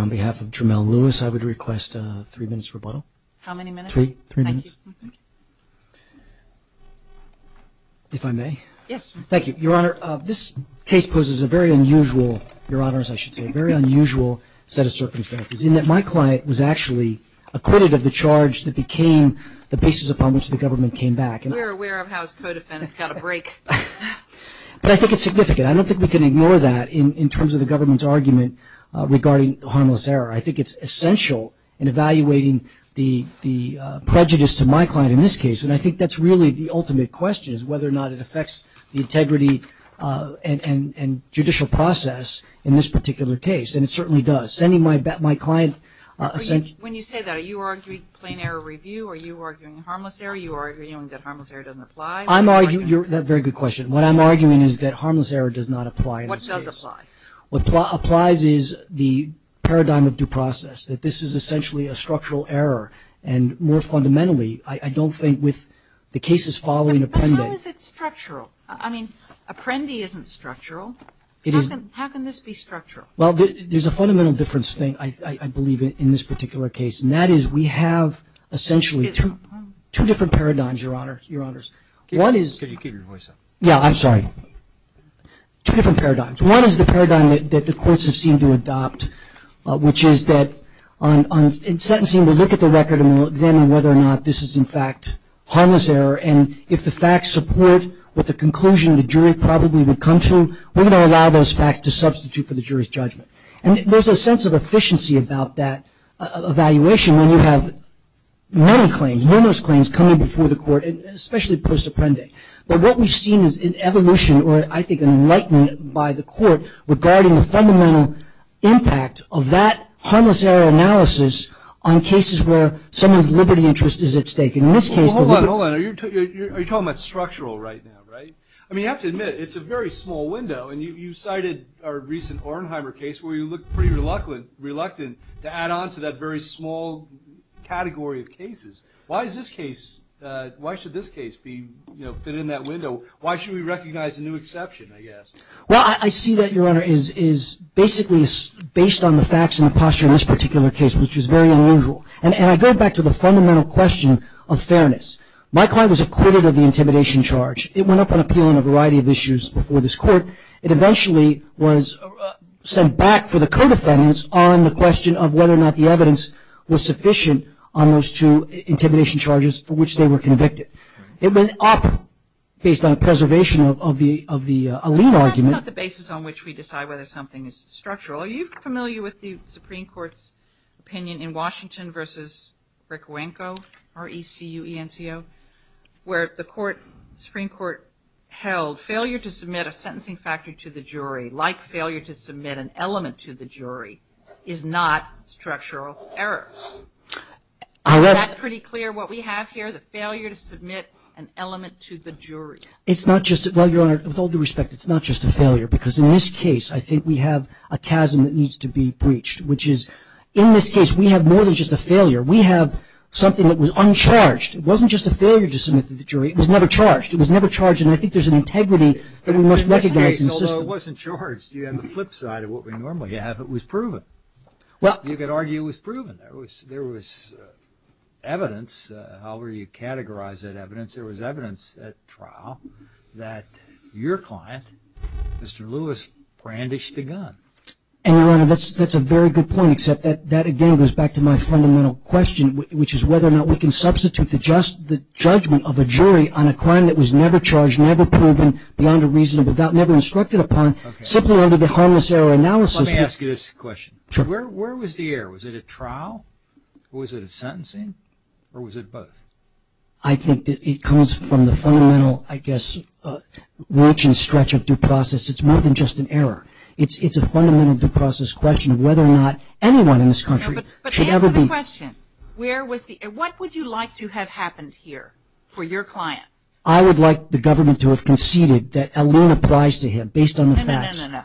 on behalf of Jermel Lewis I would request three minutes rebuttal. How many minutes? Three minutes. If I may. Yes. Thank you. Your Honour, this case poses a very unusual, Your Honour, as I should say, a very unusual set of circumstances, in that my client was actually acquitted of the charge that became the basis upon which the government came back. We are aware of how his code of fence got a break. But I think it's significant. I don't think we can ignore that in terms of the government's argument regarding harmless error. I think it's essential in evaluating the prejudice to my client in this case, and I think that's really the ultimate question is whether or not it affects the integrity and judicial process in this particular case. And it certainly does. When you say that, are you arguing plain error review? Are you arguing harmless error? Are you arguing that harmless error doesn't apply? I'm arguing, that's a very good question. What I'm arguing is that harmless error does not apply in this case. What does apply? What applies is the paradigm of due process, that this is essentially a structural error. And more fundamentally, I don't think with the cases following Apprendi. How is it structural? I mean, Apprendi isn't structural. How can this be structural? Well, there's a fundamental difference, I believe, in this particular case, and that is we have essentially two different paradigms, Your Honor. Could you keep your voice up? Yeah, I'm sorry. Two different paradigms. One is the paradigm that the courts have seemed to adopt, which is that on sentencing, we look at the record and we'll examine whether or not this is, in fact, harmless error. And if the facts support what the conclusion the jury probably would come to, we're going to allow those facts to substitute for the jury's judgment. And there's a sense of efficiency about that evaluation, when you have many claims, numerous claims, coming before the court, and especially post Apprendi. But what we've seen is an evolution, or I think an enlightenment, by the court regarding the fundamental impact of that harmless error analysis on cases where someone's liberty and interest is at stake. In this case... Hold on, hold on. Are you talking about structural right now, right? I mean, you have to admit, it's a very small window, and you cited our recent Ornheimer case where you looked pretty reluctant to add on to that very small category of cases. Why is this case, why should this case be, you know, fit in that window? Why should we recognize a new exception, I guess? Well, I see that, Your Honor, is basically based on the facts and the posture in this particular case, which is very unusual. And I go back to the fundamental question of fairness. My client was acquitted of the intimidation charge. It went up on appeal on a variety of issues before this court. It eventually was sent back for the co-defendants on the question of whether or not the evidence was sufficient on those two intimidation charges for which they were convicted. It went up based on a preservation of the, of the, a lien argument. That's not the basis on which we decide whether something is structural. Are you familiar with the Supreme Court's opinion in Washington v. Rickuenko, R-E-C-U-E-N-C-O, where the court, Supreme Court held failure to submit a sentencing factor to the jury, like failure to submit an element to the jury, is not structural error. Is that pretty clear, what we have here, the failure to submit an element to the jury? It's not just, well, Your Honor, with all due respect, it's not just a failure, because in this case, I think we have a chasm that needs to be breached, which is, in this case, we have more than just a failure. We have something that was uncharged. It wasn't just a failure to submit to the jury. It was never charged. It was never charged, and I think there's an integrity that we must recognize in the system. In this case, although it wasn't charged, you have the flip side of what we normally have. It was proven. You could argue it was proven. There was evidence, however you categorize that evidence, there was evidence at trial that your client, Mr. Lewis, brandished a gun. And, Your Honor, that's a very good point, except that, again, goes back to my fundamental question, which is whether or not we can substitute the judgment of a jury on a crime that was never charged, never proven, beyond a reasonable doubt, never instructed upon, simply under the harmless error analysis. Let me ask you this question. Where was the error? Was it at trial? Was it at sentencing? Or was it both? I think that it comes from the fundamental, I guess, reach and stretch of due process. It's more than just an error. It's a fundamental due process question of whether or not anyone in this country should ever be... No, but answer the question. Where was the... What would you like to have happened here for your client? I would like the government to have conceded that a lien applies to him, based on the facts. No, no, no, no, no, no.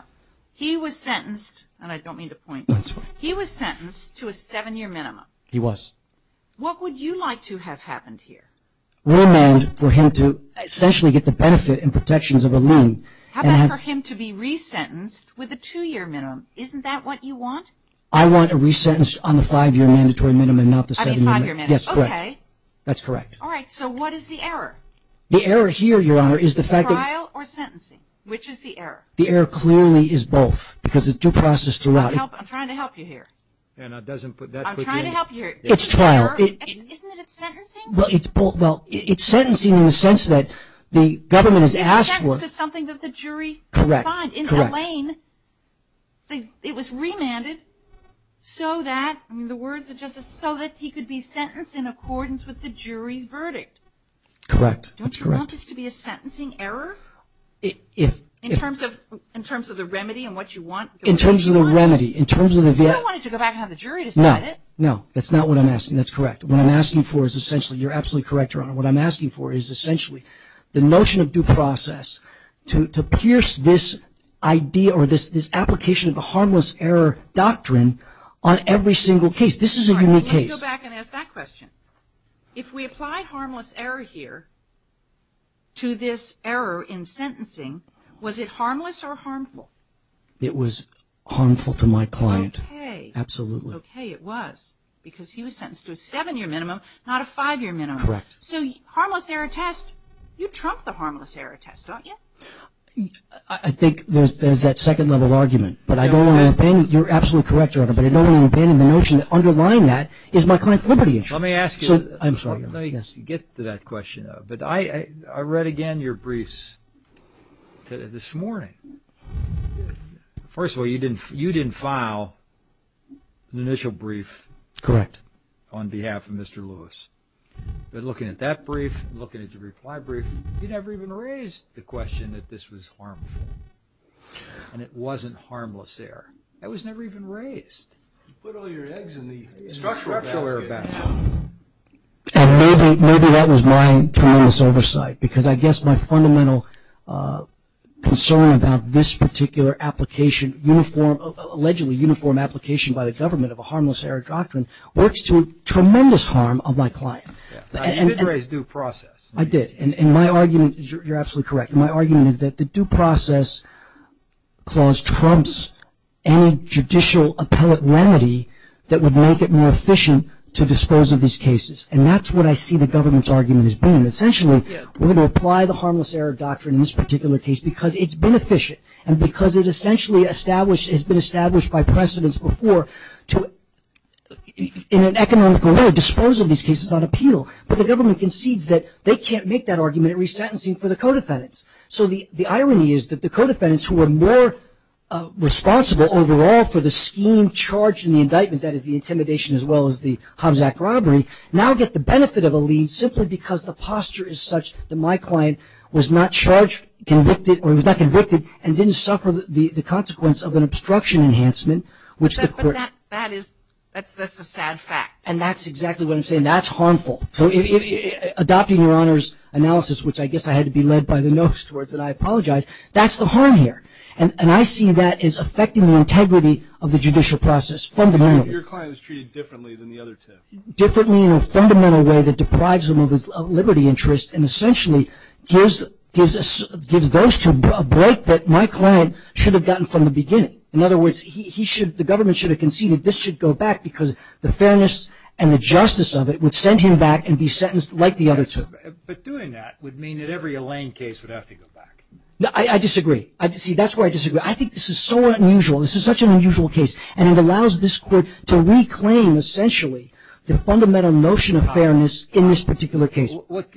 He was sentenced, and I don't mean to point you, he was sentenced to a seven-year minimum. He was. What would you like to have happened here? We demand for him to essentially get the benefit and protections of a lien and have... And to be re-sentenced with a two-year minimum. Isn't that what you want? I want a re-sentence on the five-year mandatory minimum and not the seven-year minimum. I mean five-year minimum. Yes, correct. Okay. That's correct. All right. So what is the error? The error here, Your Honor, is the fact that... Is it trial or sentencing? Which is the error? The error clearly is both, because it's due process throughout. I'm trying to help you here. Anna doesn't put that quickly. I'm trying to help you here. It's trial. Isn't it sentencing? Well, it's both. Well, it's sentencing in the sense that the government has asked for... It's sentencing to something that the jury... Correct. ...find in that lane. Correct. It was remanded so that... I mean, the words are just... So that he could be sentenced in accordance with the jury's verdict. Correct. Don't you want this to be a sentencing error? If... In terms of the remedy and what you want... In terms of the remedy. In terms of the... You don't want it to go back and have the jury decide it. No. No. That's not what I'm asking. That's correct. What I'm asking for is essentially... You're absolutely correct, Your Honor. What I'm asking for is essentially the notion of due process to pierce this idea or this application of the harmless error doctrine on every single case. This is a unique case. Let me go back and ask that question. If we apply harmless error here to this error in sentencing, was it harmless or harmful? It was harmful to my client. Okay. Absolutely. Okay, it was. Because he was sentenced to a seven-year minimum, not a five-year minimum. Correct. So harmless error test, you trump the harmless error test, don't you? I think there's that second level argument. But I don't want to abandon... You're absolutely correct, Your Honor. But I don't want to abandon the notion that underlying that is my client's liberty interest. Let me ask you... I'm sorry. Let me get to that question. But I read again your briefs this morning. First of all, you didn't file an initial brief... Correct. ...on behalf of Mr. Lewis. But looking at that brief, looking at your reply brief, you never even raised the question that this was harmful. And it wasn't harmless error. That was never even raised. You put all your eggs in the structural basket. And maybe that was my tremendous oversight. Because I guess my fundamental concern about this particular application, allegedly uniform application by the government of a harmless error doctrine, works to tremendous harm of my client. You did raise due process. I did. And my argument, you're absolutely correct, my argument is that the due process clause trumps any judicial appellate remedy that would make it more efficient to dispose of these cases. And that's what I see the government's argument has been. Essentially, we're going to apply the harmless error doctrine in this particular case because it's been efficient and because it essentially has been established by precedence before to, in an economical manner, dispose of these cases on appeal. But the government concedes that they can't make that argument in resentencing for the co-defendants. So the irony is that the co-defendants who are more responsible overall for the scheme charged in the indictment, that is the intimidation as well as the Hobbs Act robbery, now get the benefit of a lead simply because the posture is such that my client was not charged, convicted or he was not convicted and didn't suffer the consequence of an obstruction enhancement which the court But that is, that's a sad fact. And that's exactly what I'm saying. That's harmful. So adopting your Honor's analysis, which I guess I had to be led by the nose towards and I apologize, that's the harm here. And I see that as affecting the integrity of the judicial process fundamentally. Your client is treated differently than the other two. Differently in a fundamental way that deprives him of his liberty interest and essentially gives those two a break that my client should have gotten from the beginning. In other words, he should, the government should have conceded this should go back because the fairness and the justice of it would send him back and be sentenced like the other two. But doing that would mean that every Elaine case would have to go back. I disagree. See, that's where I disagree. I think this is so unusual. This is such an unusual case and it allows this court to reclaim essentially the fundamental notion of fairness in this particular case. What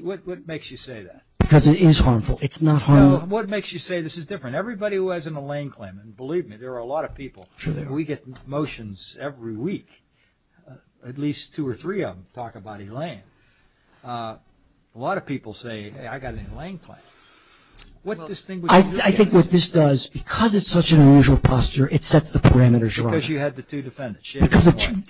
makes you say that? Because it is harmful. It's not harmful. What makes you say this is different? Everybody who has an Elaine claim, and believe me, there are a lot of people, we get motions every week, at least two or three of them talk about Elaine. A lot of people say, hey, I got an Elaine claim. I think what this does, because it's such an unusual posture, it sets the parameters wrong. Because you had the two defendants.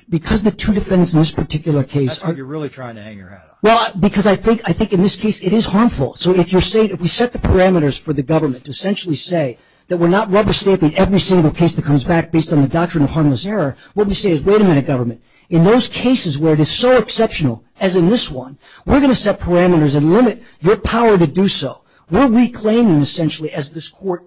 Because the two defendants in this particular case are You're really trying to hang your hat off. Well, because I think in this case it is harmful. So if we set the parameters for the government to essentially say that we're not rubber-stamping every single case that comes back based on the doctrine of harmless error, what we say is, wait a minute, government. In those cases where it is so exceptional, as in this one, we're going to set parameters and limit your power to do so. We're reclaiming essentially, as this court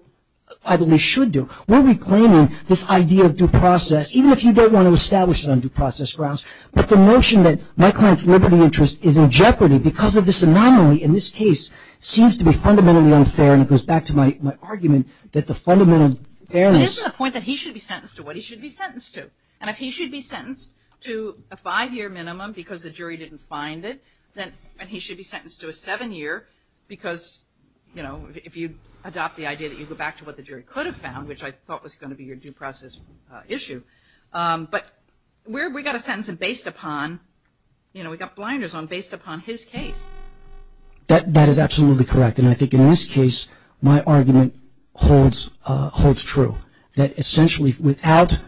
I believe should do, we're reclaiming this idea of due process, even if you don't want to establish it on due process grounds. But the notion that my client's liberty interest is in jeopardy because of this anomaly in this case seems to be fundamentally unfair. And it goes back to my argument that the fundamental fairness But isn't the point that he should be sentenced to what he should be sentenced to? And if he should be sentenced to a five-year minimum because the jury didn't find it, then he should be sentenced to a seven-year because, you know, if you adopt the idea that you go back to what the jury could have found, which I thought was going to be your due process issue. But we got a sentence based upon, you know, we got blinders on, based upon his case. That is absolutely correct. And I think in this case, my argument holds true. That essentially, without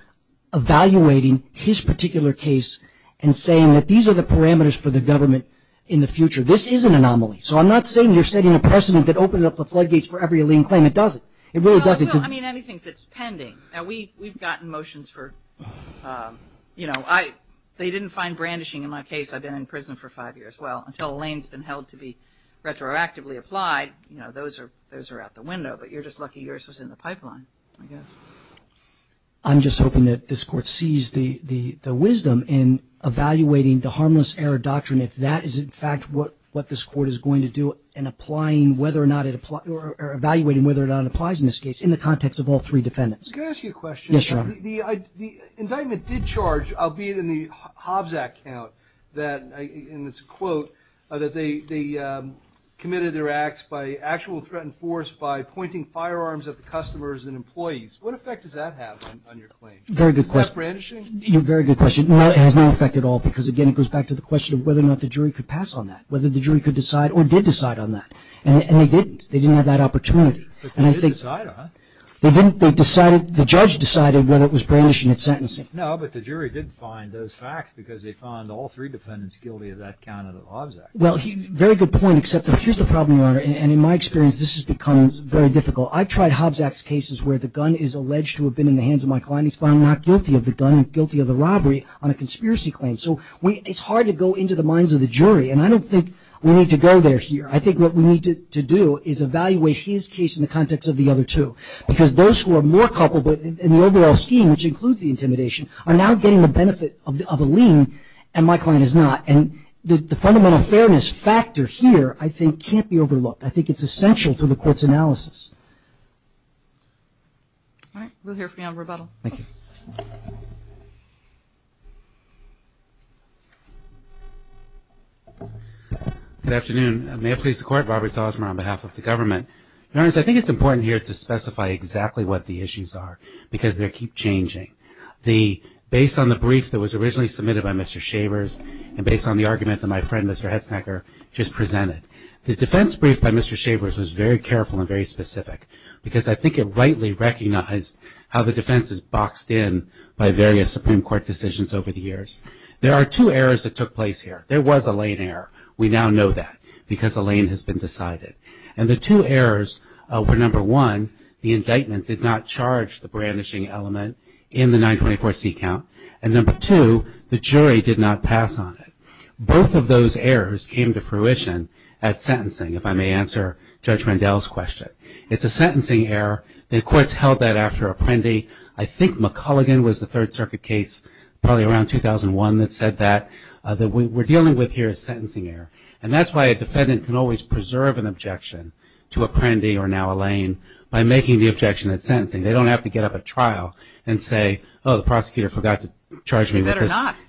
evaluating his particular case and saying that these are the parameters for the government in the future, this is an anomaly. So I'm not saying you're setting a precedent that opened up the floodgates for every lien claim. It doesn't. It really doesn't. I mean, anything that's pending. Now, we've gotten motions for, you know, they didn't find brandishing in my case. I've been in prison for five years. Well, until a lien's been held to be retroactively applied, you know, those are out the window. But you're just lucky yours was in the pipeline, I guess. I'm just hoping that this court sees the wisdom in evaluating the harmless error doctrine if that is, in fact, what this court is going to do in evaluating whether or not it applies in this case in the context of all three defendants. Can I ask you a question? Yes, Your Honor. The indictment did charge, albeit in the Hobbs Act count, and it's a quote, that they committed their acts by actual threatened force by pointing firearms at the customers and employees. What effect does that have on your claim? Very good question. Is that brandishing? Very good question. No, it has no effect at all because, again, it goes back to the question of whether or not the jury could pass on that, whether the jury could decide or did decide on that. And they didn't. They didn't have that opportunity. But they did decide on it. They didn't. They decided. The judge decided whether it was brandishing and sentencing. No, but the jury did find those facts because they found all three defendants guilty of that count of the Hobbs Act. Well, very good point, except here's the problem, Your Honor. And in my experience, this has become very difficult. I've tried Hobbs Act cases where the gun is alleged to have been in the hands of my client. He's found not guilty of the gun, guilty of the robbery on a conspiracy claim. So it's hard to go into the minds of the jury. And I don't think we need to go there here. I think what we need to do is evaluate his case in the context of the other two. Because those who are more culpable in the overall scheme, which includes the intimidation, are now getting the benefit of a lien and my client is not. And the fundamental fairness factor here, I think, can't be overlooked. I think it's essential to the court's analysis. All right. We'll hear from you on rebuttal. Thank you. Good afternoon. May I please support Robert Salzman on behalf of the government? Your Honor, I think it's important here to specify exactly what the issues are because they keep changing. Based on the brief that was originally submitted by Mr. Shavers and based on the argument that my friend, Mr. Hetznecker, just presented, the defense brief by Mr. Shavers was very careful and very specific because I think it rightly recognized how the defense is boxed in by various Supreme Court decisions over the years. There are two errors that took place here. There was a lien error. We now know that because a lien has been decided. And the two errors were, number one, the indictment did not charge the brandishing element in the 924C count. And number two, the jury did not pass on it. Both of those errors came to fruition at sentencing, if I may answer Judge Rendell's question. It's a sentencing error. The courts held that after Apprendi. I think McCulligan was the Third Circuit case probably around 2001 that said that. What we're dealing with here is sentencing error. And that's why a defendant can always preserve an objection to Apprendi or now a lien by making the objection at sentencing. They don't have to get up at trial and say, oh, the prosecutor forgot to charge me with this. They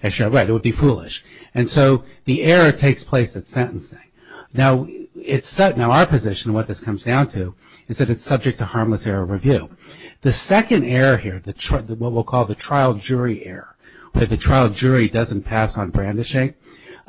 better not. Right. It would be foolish. And so the error takes place at sentencing. Now our position, what this comes down to, is that it's subject to harmless error review. The second error here, what we'll call the trial jury error, where the trial jury doesn't pass on brandishing,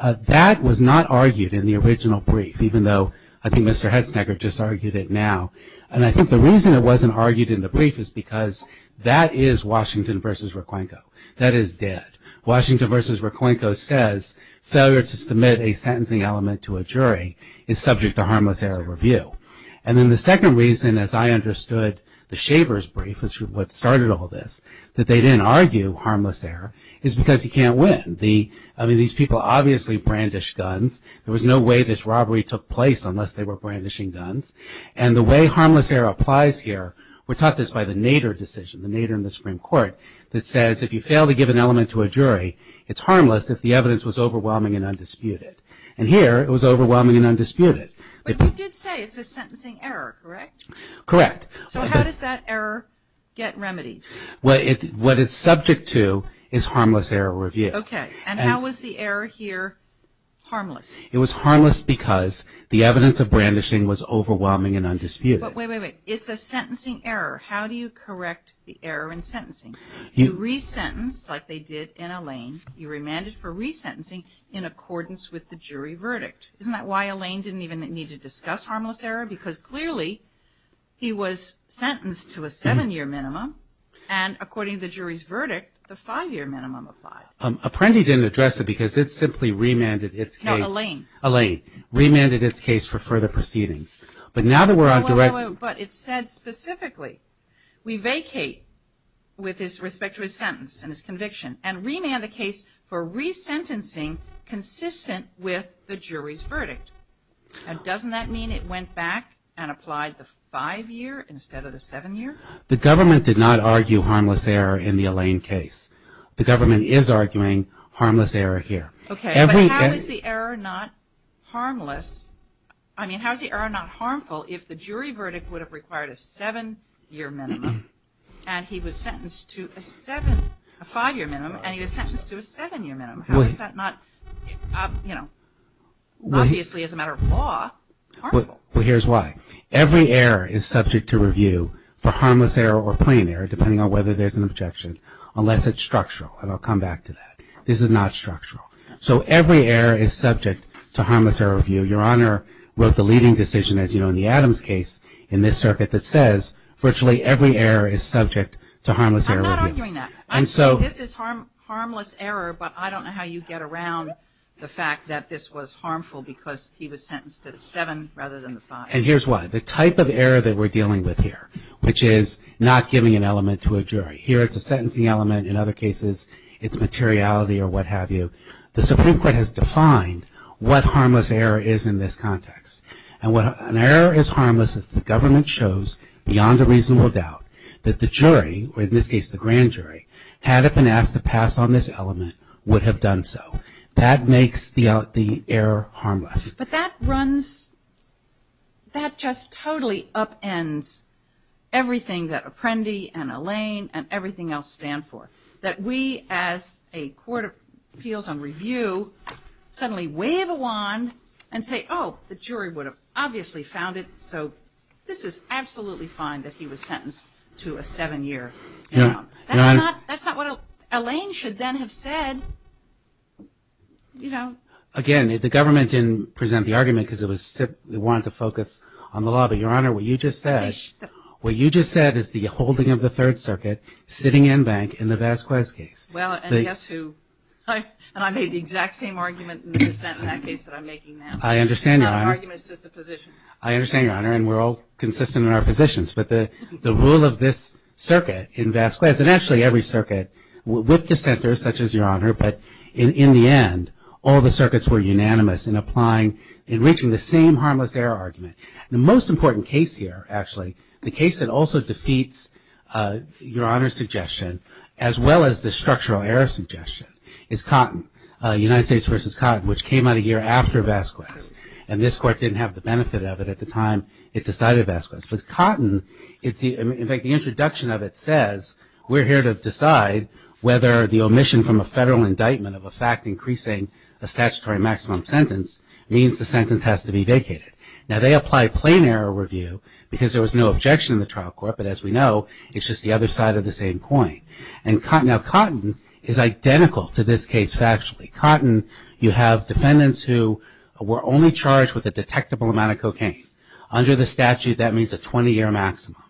that was not argued in the original brief, even though I think Mr. Hetznegger just argued it now. And I think the reason it wasn't argued in the brief is because that is Washington v. Requenco. That is dead. Washington v. Requenco says failure to submit a sentencing element to a jury is subject to harmless error review. And then the second reason, as I understood the Shavers brief, which is what started all this, that they didn't argue harmless error is because you can't win. I mean, these people obviously brandished guns. There was no way this robbery took place unless they were brandishing guns. And the way harmless error applies here, we're taught this by the Nader decision, the Nader in the Supreme Court, that says if you fail to give an element to a jury, it's harmless if the evidence was overwhelming and undisputed. And here it was overwhelming and undisputed. But you did say it's a sentencing error, correct? Correct. So how does that error get remedied? What it's subject to is harmless error review. Okay. And how was the error here harmless? It was harmless because the evidence of brandishing was overwhelming and undisputed. But wait, wait, wait. It's a sentencing error. How do you correct the error in sentencing? You resentence, like they did in Allain, you remanded for resentencing in accordance with the jury verdict. Isn't that why Allain didn't even need to discuss harmless error? Because clearly he was sentenced to a seven-year minimum and according to the jury's verdict, the five-year minimum applied. Apprendi didn't address it because it simply remanded its case. No, Allain. Allain. Remanded its case for further proceedings. But now that we're on direct... But it said specifically, we vacate with respect to his sentence and his conviction and remand the case for resentencing consistent with the jury's verdict. And doesn't that mean it went back and applied the five-year instead of the seven-year? The government did not argue harmless error in the Allain case. The government is arguing harmless error here. Okay, but how is the error not harmless? I mean, how is the error not harmful if the jury verdict would have required a seven-year minimum and he was sentenced to a five-year minimum and he was sentenced to a seven-year minimum? How is that not, you know, obviously, as a matter of law, harmful? Well, here's why. Every error is subject to review for harmless error or plain error, depending on whether there's an objection, unless it's structural. And I'll come back to that. This is not structural. So every error is subject to harmless error review. Your Honor wrote the leading decision, as you know, in the Adams case in this circuit, that says virtually every error is subject to harmless error review. I'm not arguing that. I'm saying this is harmless error, but I don't know how you get around the fact that this was harmful because he was sentenced to the seven rather than the five. And here's why. The type of error that we're dealing with here, which is not giving an element to a jury. Here, it's a sentencing element. In other cases, it's materiality or what have you. The Supreme Court has defined what harmless error is in this context. An error is harmless if the government shows, beyond a reasonable doubt, that the jury, or in this case the grand jury, had it been asked to pass on this element, would have done so. That makes the error harmless. But that runs, that just totally upends everything that Apprendi and Elaine and everything else stand for. That we, as a court of appeals and review, suddenly wave a wand and say, oh, the jury would have obviously found it, so this is absolutely fine that he was sentenced to a seven-year term. That's not what Elaine should then have said. Again, the government didn't present the argument because it wanted to focus on the law. But, Your Honor, what you just said is the holding of the Third Circuit sitting in bank in the Vasquez case. Well, and guess who? And I made the exact same argument in the dissent in that case that I'm making now. I understand, Your Honor. That argument is just the position. I understand, Your Honor, and we're all consistent in our positions. But the rule of this circuit in Vasquez, and actually every circuit, with dissenters, such as Your Honor, but in the end, all the circuits were unanimous in applying and reaching the same harmless error argument. The most important case here, actually, the case that also defeats Your Honor's suggestion, as well as the structural error suggestion, is Cotton, United States v. Cotton, which came out a year after Vasquez. And this court didn't have the benefit of it at the time it decided Vasquez. But Cotton, in fact, the introduction of it says we're here to decide whether the omission from a federal indictment of a fact increasing a statutory maximum sentence means the sentence has to be vacated. Now, they apply plain error review because there was no objection in the trial court, but as we know, it's just the other side of the same coin. Now, Cotton is identical to this case factually. Cotton, you have defendants who were only charged with a detectable amount of cocaine. Under the statute, that means a 20-year maximum.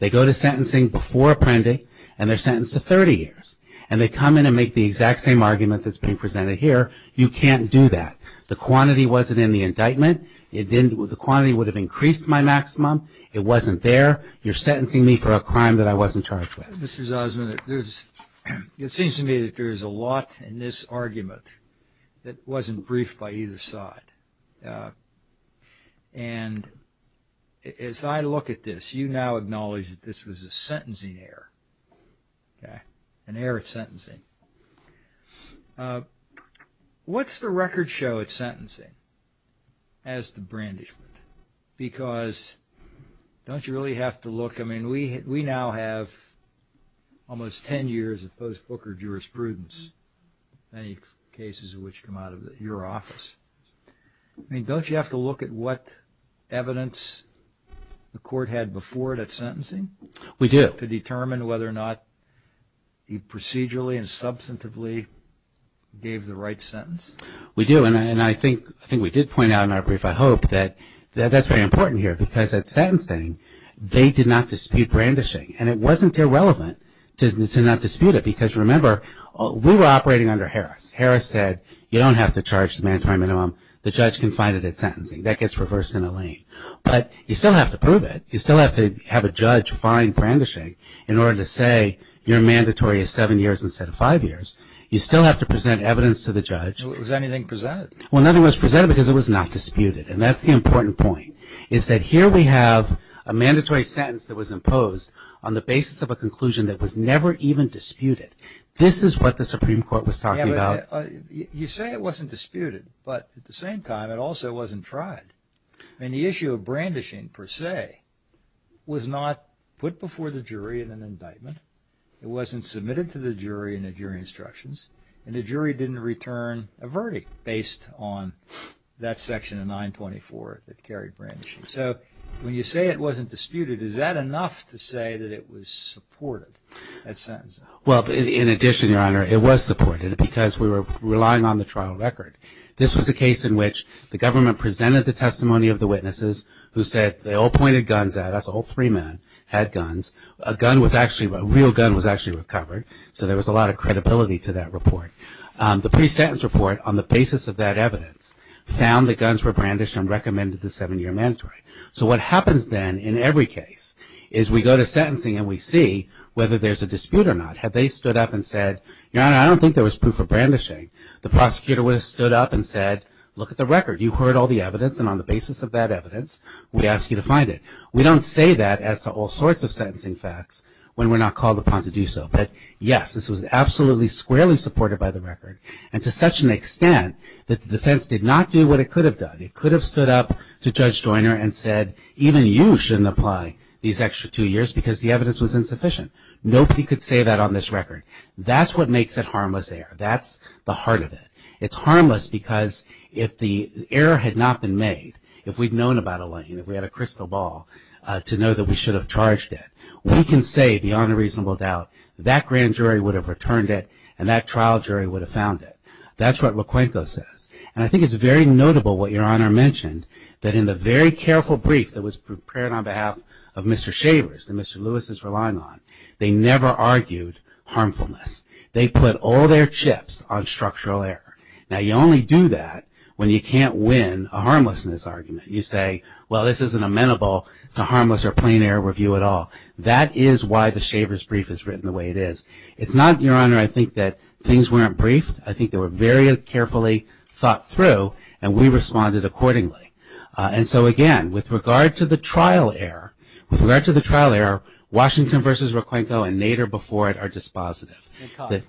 They go to sentencing before appending, and they're sentenced to 30 years. And they come in and make the exact same argument that's being presented here. You can't do that. The quantity wasn't in the indictment. The quantity would have increased my maximum. It wasn't there. You're sentencing me for a crime that I wasn't charged with. Mr. Zosman, it seems to me that there's a lot in this argument that wasn't briefed by either side. And as I look at this, you now acknowledge that this was a sentencing error. An error at sentencing. What's the record show at sentencing as to brandishment? Because don't you really have to look? I mean, we now have almost 10 years of post-Booker jurisprudence. Many cases of which come out of your office. I mean, don't you have to look at what evidence the court had before it at sentencing? We do. To determine whether or not procedurally and substantively gave the right sentence? We do. And I think we did point out in our brief, I hope, that that's very important here. Because at sentencing they did not dispute brandishing. And it wasn't irrelevant to not dispute it. Because remember we were operating under Harris. Harris said you don't have to charge the mandatory minimum. The judge can find it at sentencing. That gets reversed in a lane. But you still have to prove it. You still have to have a judge find brandishing in order to say your mandatory is 7 years instead of 5 years. You still have to present evidence to the judge. Was anything presented? Well, nothing was presented because it was not disputed. And that's the important point. It's that here we have a mandatory sentence that was imposed on the basis of a conclusion that was never even disputed. This is what the Supreme Court was talking about. You say it wasn't disputed. But at the same time, it also wasn't tried. And the issue of brandishing per se, was not put before the jury in an indictment. It wasn't submitted to the jury in the jury instructions. And the jury didn't return a verdict based on that section of 924 that carried brandishing. So, when you say it wasn't disputed, is that enough to say that it was supported? Well, in addition, Your Honor, it was supported because we were relying on the trial record. This was a case in which the government presented the testimony of the witnesses who said they all pointed guns at us. All three men had guns. A real gun was actually recovered. So, there was a lot of credibility to that report. The pre-sentence report on the basis of that evidence found that guns were brandished and recommended the 7-year mandatory. So, what happens then in every case is we go to sentencing and we see whether there's a dispute or not. Had they stood up and said Your Honor, I don't think there was proof of brandishing. The prosecutor would have stood up and said, look at the record. You've heard all the evidence and on the basis of that evidence we ask you to find it. We don't say that as to all sorts of sentencing facts when we're not called upon to do so. But yes, this was absolutely squarely supported by the record and to such an extent that the defense did not do what it could have done. It could have stood up to Judge Joyner and said, even you shouldn't apply these extra two years because the evidence was insufficient. Nobody could say that on this record. That's what makes it harmless error. That's the heart of it. It's harmless because if the error had not been made, if we'd known about Elaine, if we had a crystal ball to know that we should have charged it, we can say beyond a reasonable doubt, that grand jury would have returned it and that trial jury would have found it. That's what Loquenco says. And I think it's very notable what Your Honor mentioned, that in the very careful brief that was prepared on behalf of Mr. Shavers that Mr. Lewis is relying on, they never argued harmfulness. They put all their chips on structural error. Now you only do that when you can't win a harmlessness argument. You say, well this isn't amenable to harmless or plain error review at all. That is why the Shavers brief is written the way it is. It's not, Your Honor, I think that things weren't briefed. I think they were very carefully thought through and we responded accordingly. And so again with regard to the trial error, with regard to the trial error, Washington versus Loquenco and Nader before it are dispositive. And Cotton.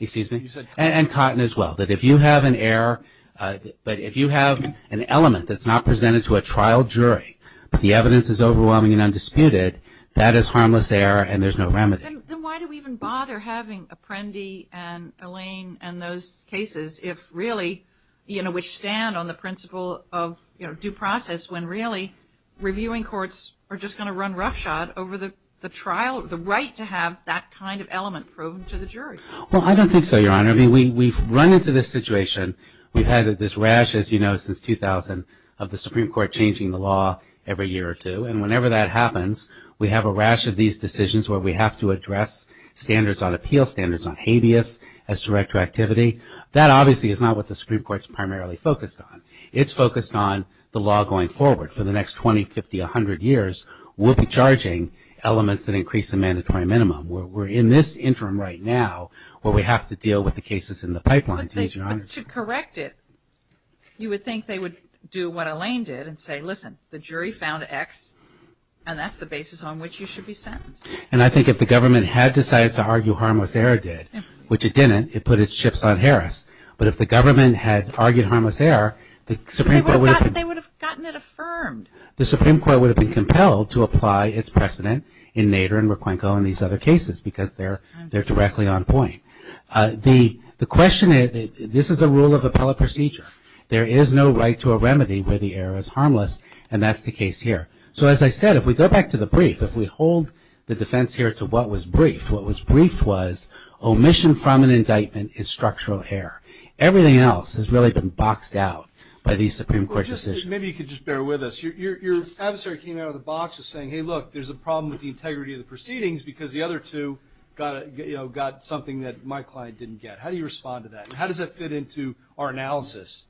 Excuse me? And Cotton as well. That if you have an error, but if you have an element that's not presented to a trial jury, but the evidence is overwhelming and undisputed, that is harmless error and there's no remedy. Then why do we even bother having Apprendi and Elaine and those cases if really which stand on the principle of due process when really reviewing courts are just going to run roughshod over the trial, the right to have that kind of element proven to the jury. Well I don't think so, Your Honor. We've run into this situation. We've had this rash as you know since 2000 of the Supreme Court changing the law every year or two. And whenever that happens we have a rash of these decisions where we have to address standards on appeal, standards on habeas as to retroactivity. That obviously is not what the Supreme Court is primarily focused on. It's focused on the law going forward. For the next 20, 50, 100 years, we'll be charging elements that increase the mandatory minimum. We're in this interim right now where we have to deal with the cases in the pipeline. But to correct it, you would think they would do what Elaine did and say, listen, the jury found X and that's the basis on which you should be sentenced. And I think if the government had decided to argue harmless error did, which it didn't, it put its chips on Harris. But if the government had argued harmless error, the Supreme Court would have gotten it affirmed. The Supreme Court would have been compelled to apply its precedent in Nader and Raquenco and these other cases because they're directly on point. The question is, this is a rule of appellate procedure. There is no right to a remedy where the error is harmless and that's the case here. So as I said, if we go back to the brief, if we hold the defense here to what was briefed, what was briefed was omission from an indictment is structural error. Everything else has really been boxed out by these Supreme Court decisions. Maybe you could just bear with us. Your adversary came out of the box saying, hey, look, there's a problem with the integrity of the proceedings because the other two got something that my client didn't get. How do you respond to that? How does that fit into our analysis?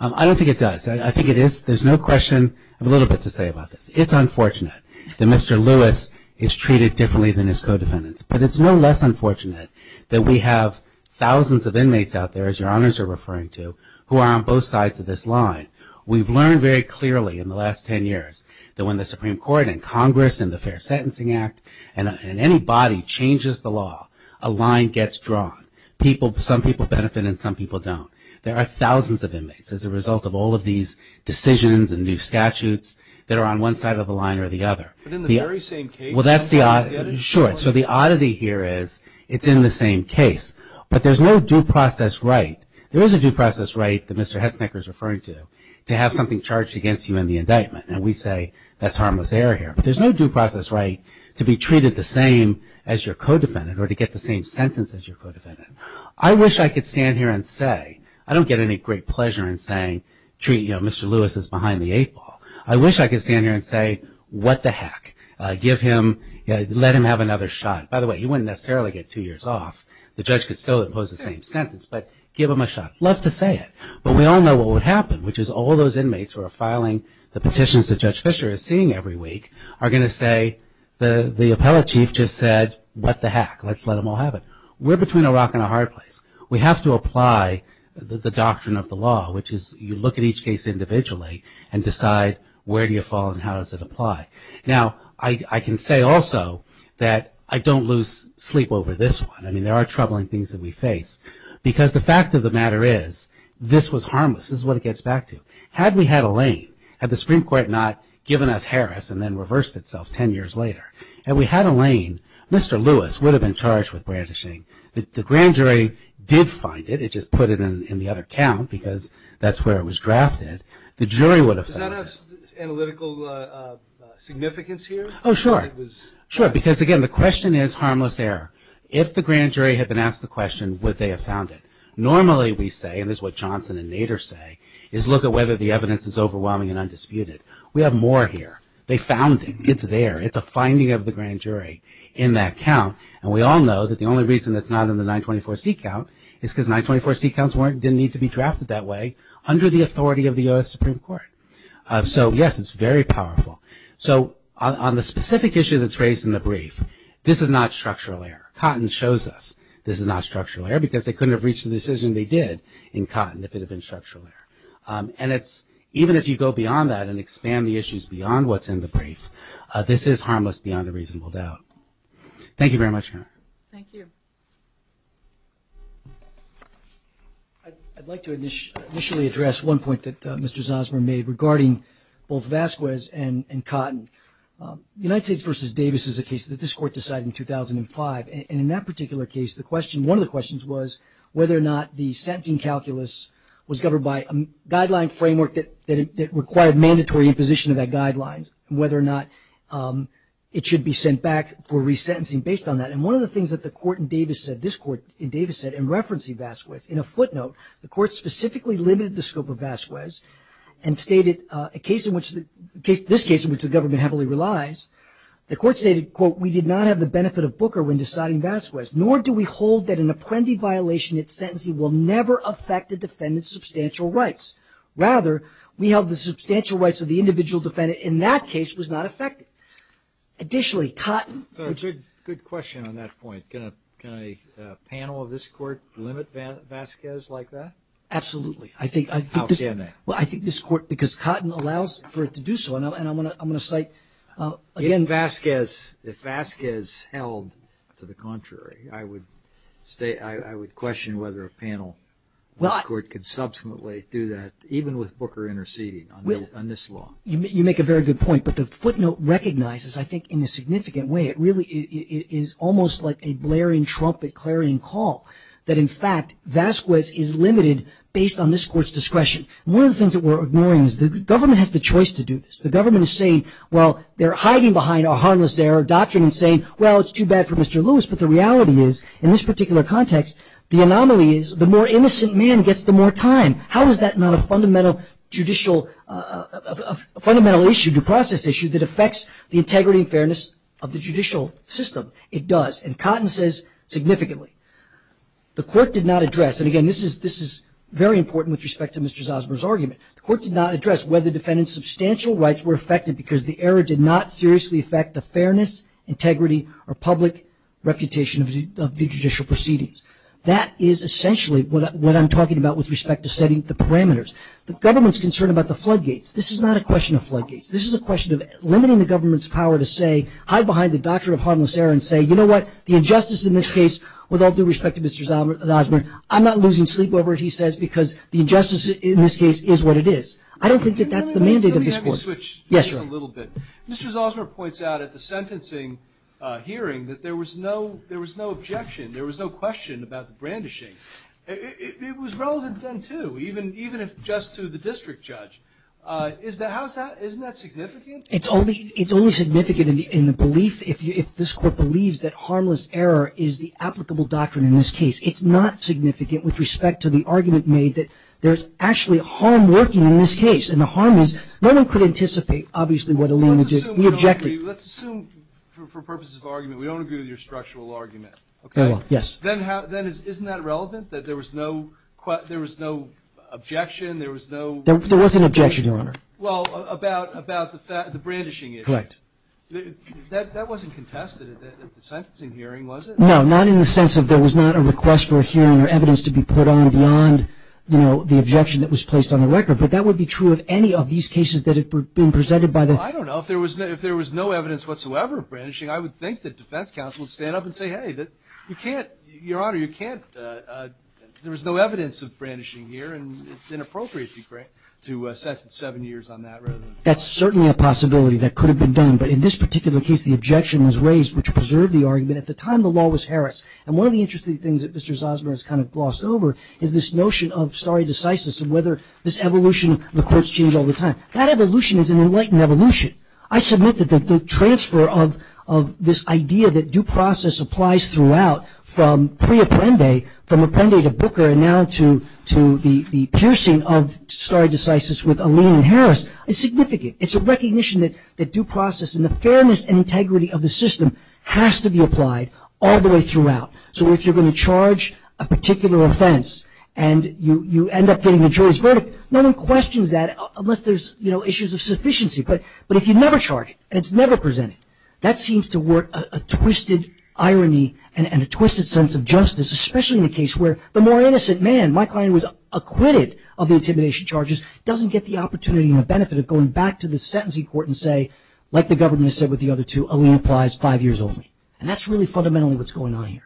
I don't think it does. I think it is. There's no question I have a little bit to say about this. It's unfortunate that Mr. Lewis is It's no less unfortunate that we have thousands of inmates out there, as your honors are referring to, who are on both sides of this line. We've learned very clearly in the last ten years that when the Supreme Court and Congress and the Fair Sentencing Act and any body changes the law, a line gets drawn. Some people benefit and some people don't. There are thousands of inmates as a result of all of these decisions and new statutes that are on one side of the line or the other. But in the very same case... Sure, so the oddity here is it's in the same case. But there's no due process right. There is a due process right that Mr. Hesniker is referring to, to have something charged against you in the indictment. And we say that's harmless error here. But there's no due process right to be treated the same as your co-defendant or to get the same sentence as your co-defendant. I wish I could stand here and say I don't get any great pleasure in saying treat Mr. Lewis as behind the eight ball. I wish I could stand here and say what the heck. Give him let him have another shot. By the way he wouldn't necessarily get two years off. The judge could still impose the same sentence but give him a shot. Love to say it. But we all know what would happen which is all those inmates who are filing the petitions that Judge Fischer is seeing every week are going to say the appellate chief just said what the heck. Let's let them all have it. We're between a rock and a hard place. We have to apply the doctrine of the law which is you look at each case individually and decide where do you fall and how does it apply. Now I can say also that I don't lose sleep over this one. I mean there are troubling things that we face because the fact of the matter is this was harmless this is what it gets back to. Had we had a lane, had the Supreme Court not given us Harris and then reversed itself ten years later and we had a lane Mr. Lewis would have been charged with brandishing the grand jury did find it. It just put it in the other count because that's where it was drafted the jury would have found it. Does that have analytical significance here? Oh sure. Because again the question is harmless error if the grand jury had been asked the question would they have found it? Normally we say and this is what Johnson and Nader say is look at whether the evidence is overwhelming and undisputed. We have more here they found it. It's there. It's a finding of the grand jury in that count and we all know that the only reason it's not in the 924C count is because 924C counts didn't need to be drafted that way under the authority of the U.S. Supreme Court. So yes it's very powerful. So on the specific issue that's raised in the brief this is not structural error. Cotton shows us this is not structural error because they couldn't have reached the decision they did in cotton if it had been structural error. And it's even if you go beyond that and expand the issues beyond what's in the brief this is harmless beyond a reasonable doubt. Thank you very much. Thank you. I'd like to initially address one point that Mr. Zosmer made regarding both Vasquez and Cotton. United States v. Davis is a case that this court decided in 2005 and in that particular case the question one of the questions was whether or not the sentencing calculus was governed by a guideline framework that required mandatory imposition of that guideline whether or not it should be sent back for resentencing based on that and one of the things that the court in Davis said this court in Davis said in referencing Vasquez in a footnote the court specifically limited the scope of Vasquez and stated a case in which this case in which the government heavily relies the court stated we did not have the benefit of Booker when deciding Vasquez nor do we hold that an apprendee violation in its sentencing will never affect the defendant's substantial rights rather we held the substantial rights of the individual defendant in that case was not affected. Additionally Cotton Good question on that point can a panel of this court limit Vasquez like that? Absolutely I think this court because Cotton allows for it to do so and I'm going to cite If Vasquez held to the contrary I would question whether a panel of this court could subsequently do that even with Booker interceding on this law. You make a very good point but the footnote recognizes I think in a significant way it really is almost like a blaring trumpet clarion call that in fact Vasquez is limited based on this court's discretion. One of the things that we're ignoring is the government has the choice to do this. The government is saying well they're hiding behind a harmless error doctrine and saying well it's too bad for Mr. Lewis but the reality is in this particular context the anomaly is the more innocent man gets the more time. How is that not a fundamental judicial a fundamental issue due process issue that affects the integrity and fairness of the judicial system? It does and Cotton says significantly. The court did not address and again this is very important with respect to Mr. Zosmer's argument the court did not address whether defendants substantial rights were affected because the error did not seriously affect the fairness integrity or public reputation of the judicial proceedings That is essentially what I'm talking about with respect to setting the floodgates. This is not a question of floodgates. This is a question of limiting the government's power to say hide behind the doctrine of harmless error and say you know what the injustice in this case with all due respect to Mr. Zosmer I'm not losing sleep over it he says because the injustice in this case is what it is. I don't think that's the mandate of this court. Let me switch a little bit Mr. Zosmer points out at the sentencing hearing that there was no there was no objection. There was no question about the brandishing. It was relevant then too even if just to the district judge isn't that significant? It's only significant in the belief if this court believes that harmless error is the applicable doctrine in this case. It's not significant with respect to the argument made that there's actually harm working in this case and the harm is no one could anticipate obviously what a lien would do Let's assume for purposes of argument we don't agree with your structural argument. Then isn't that relevant that there was no objection? There was no There was an objection your honor. Well about the brandishing issue. That wasn't contested at the sentencing hearing was it? No not in the sense that there was not a request for a hearing or evidence to be put on beyond the objection that was placed on the record but that would be true of any of these cases that have been presented by the I don't know if there was no evidence whatsoever of brandishing I would think that defense counsel would stand up and say hey your honor you can't there was no evidence of brandishing here and it's inappropriate to sentence seven years on that That's certainly a possibility that could have been done but in this particular case the objection was raised which preserved the argument at the time the law was Harris and one of the interesting things that Mr. Zosmer has kind of glossed over is this notion of stare decisis and whether this evolution the courts change all the time. That evolution is an enlightened evolution. I submit that the transfer of this idea that due process applies throughout from pre-Apprende from Apprende to Booker and now to the piercing of stare decisis with Alene and Harris is significant. It's a recognition that due process and the fairness and integrity of the system has to be applied all the way throughout. So if you're going to charge a particular offense and you end up getting the jury's verdict no one questions that unless there's issues of sufficiency but if you never charge it and it's never presented that seems to work a twisted sense of justice especially in a case where the more innocent man, my client was acquitted of the intimidation charges doesn't get the opportunity and the benefit of going back to the sentencing court and say like the government has said with the other two Alene applies five years only and that's really fundamentally what's going on here.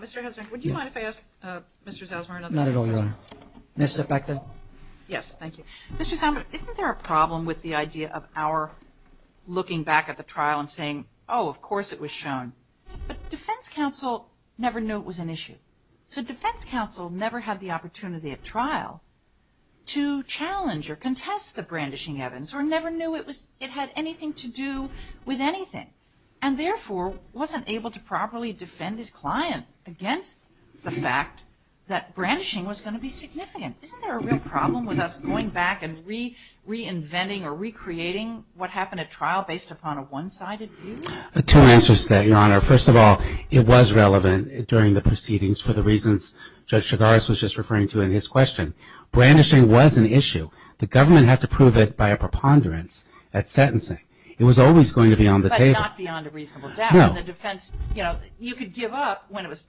Mr. Zosmer, would you mind if I ask Mr. Zosmer another question? Not at all, Your Honor. May I step back then? Yes, thank you. Mr. Zosmer, isn't there a problem with the idea of our looking back at the trial and saying oh, of course it was shown but defense counsel never knew it was an issue. So defense counsel never had the opportunity at trial to challenge or contest the brandishing evidence or never knew it had anything to do with anything and therefore wasn't able to properly defend his client against the fact that brandishing was going to be significant. Isn't there a real problem with us going back and reinventing or recreating what happened in a trial based upon a one-sided view? Two answers to that, Your Honor. First of all it was relevant during the proceedings for the reasons Judge Chigaris was just referring to in his question. Brandishing was an issue. The government had to prove it by a preponderance at sentencing. It was always going to be on the table. But not beyond a reasonable doubt. In the defense, you know, you could give up when it was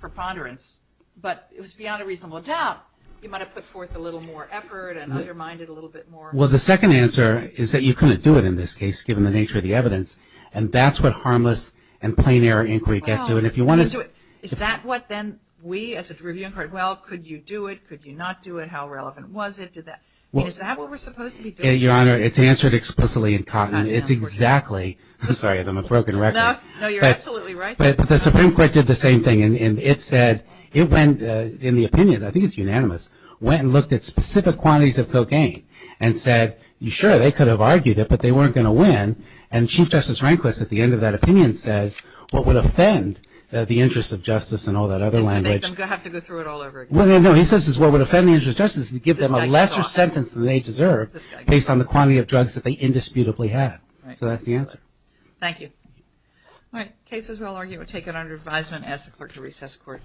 preponderance but it was beyond a reasonable doubt you might have put forth a little more effort and undermined it a little bit more. Well, the second answer is that you couldn't do it in this case given the nature of the evidence. And that's what harmless and plain error inquiry gets to. Is that what then we as a review court, well could you do it? Could you not do it? How relevant was it? Is that what we're supposed to be doing? Your Honor, it's answered explicitly in Cotton. It's exactly I'm sorry, I'm on a broken record. No, you're absolutely right. But the Supreme Court did the same thing and it said in the opinion, I think it's unanimous went and looked at specific quantities of cocaine and said sure, they could have argued it, but they weren't going to win and Chief Justice Rehnquist at the end of that opinion says, what would offend the interest of justice and all that other language. Is to make them have to go through it all over again. No, he says what would offend the interest of justice is to give them a lesser sentence than they deserve based on the quantity of drugs that they indisputably have. So that's the answer. Thank you. All right. Cases well argued were taken under advisement as the clerk of recess court.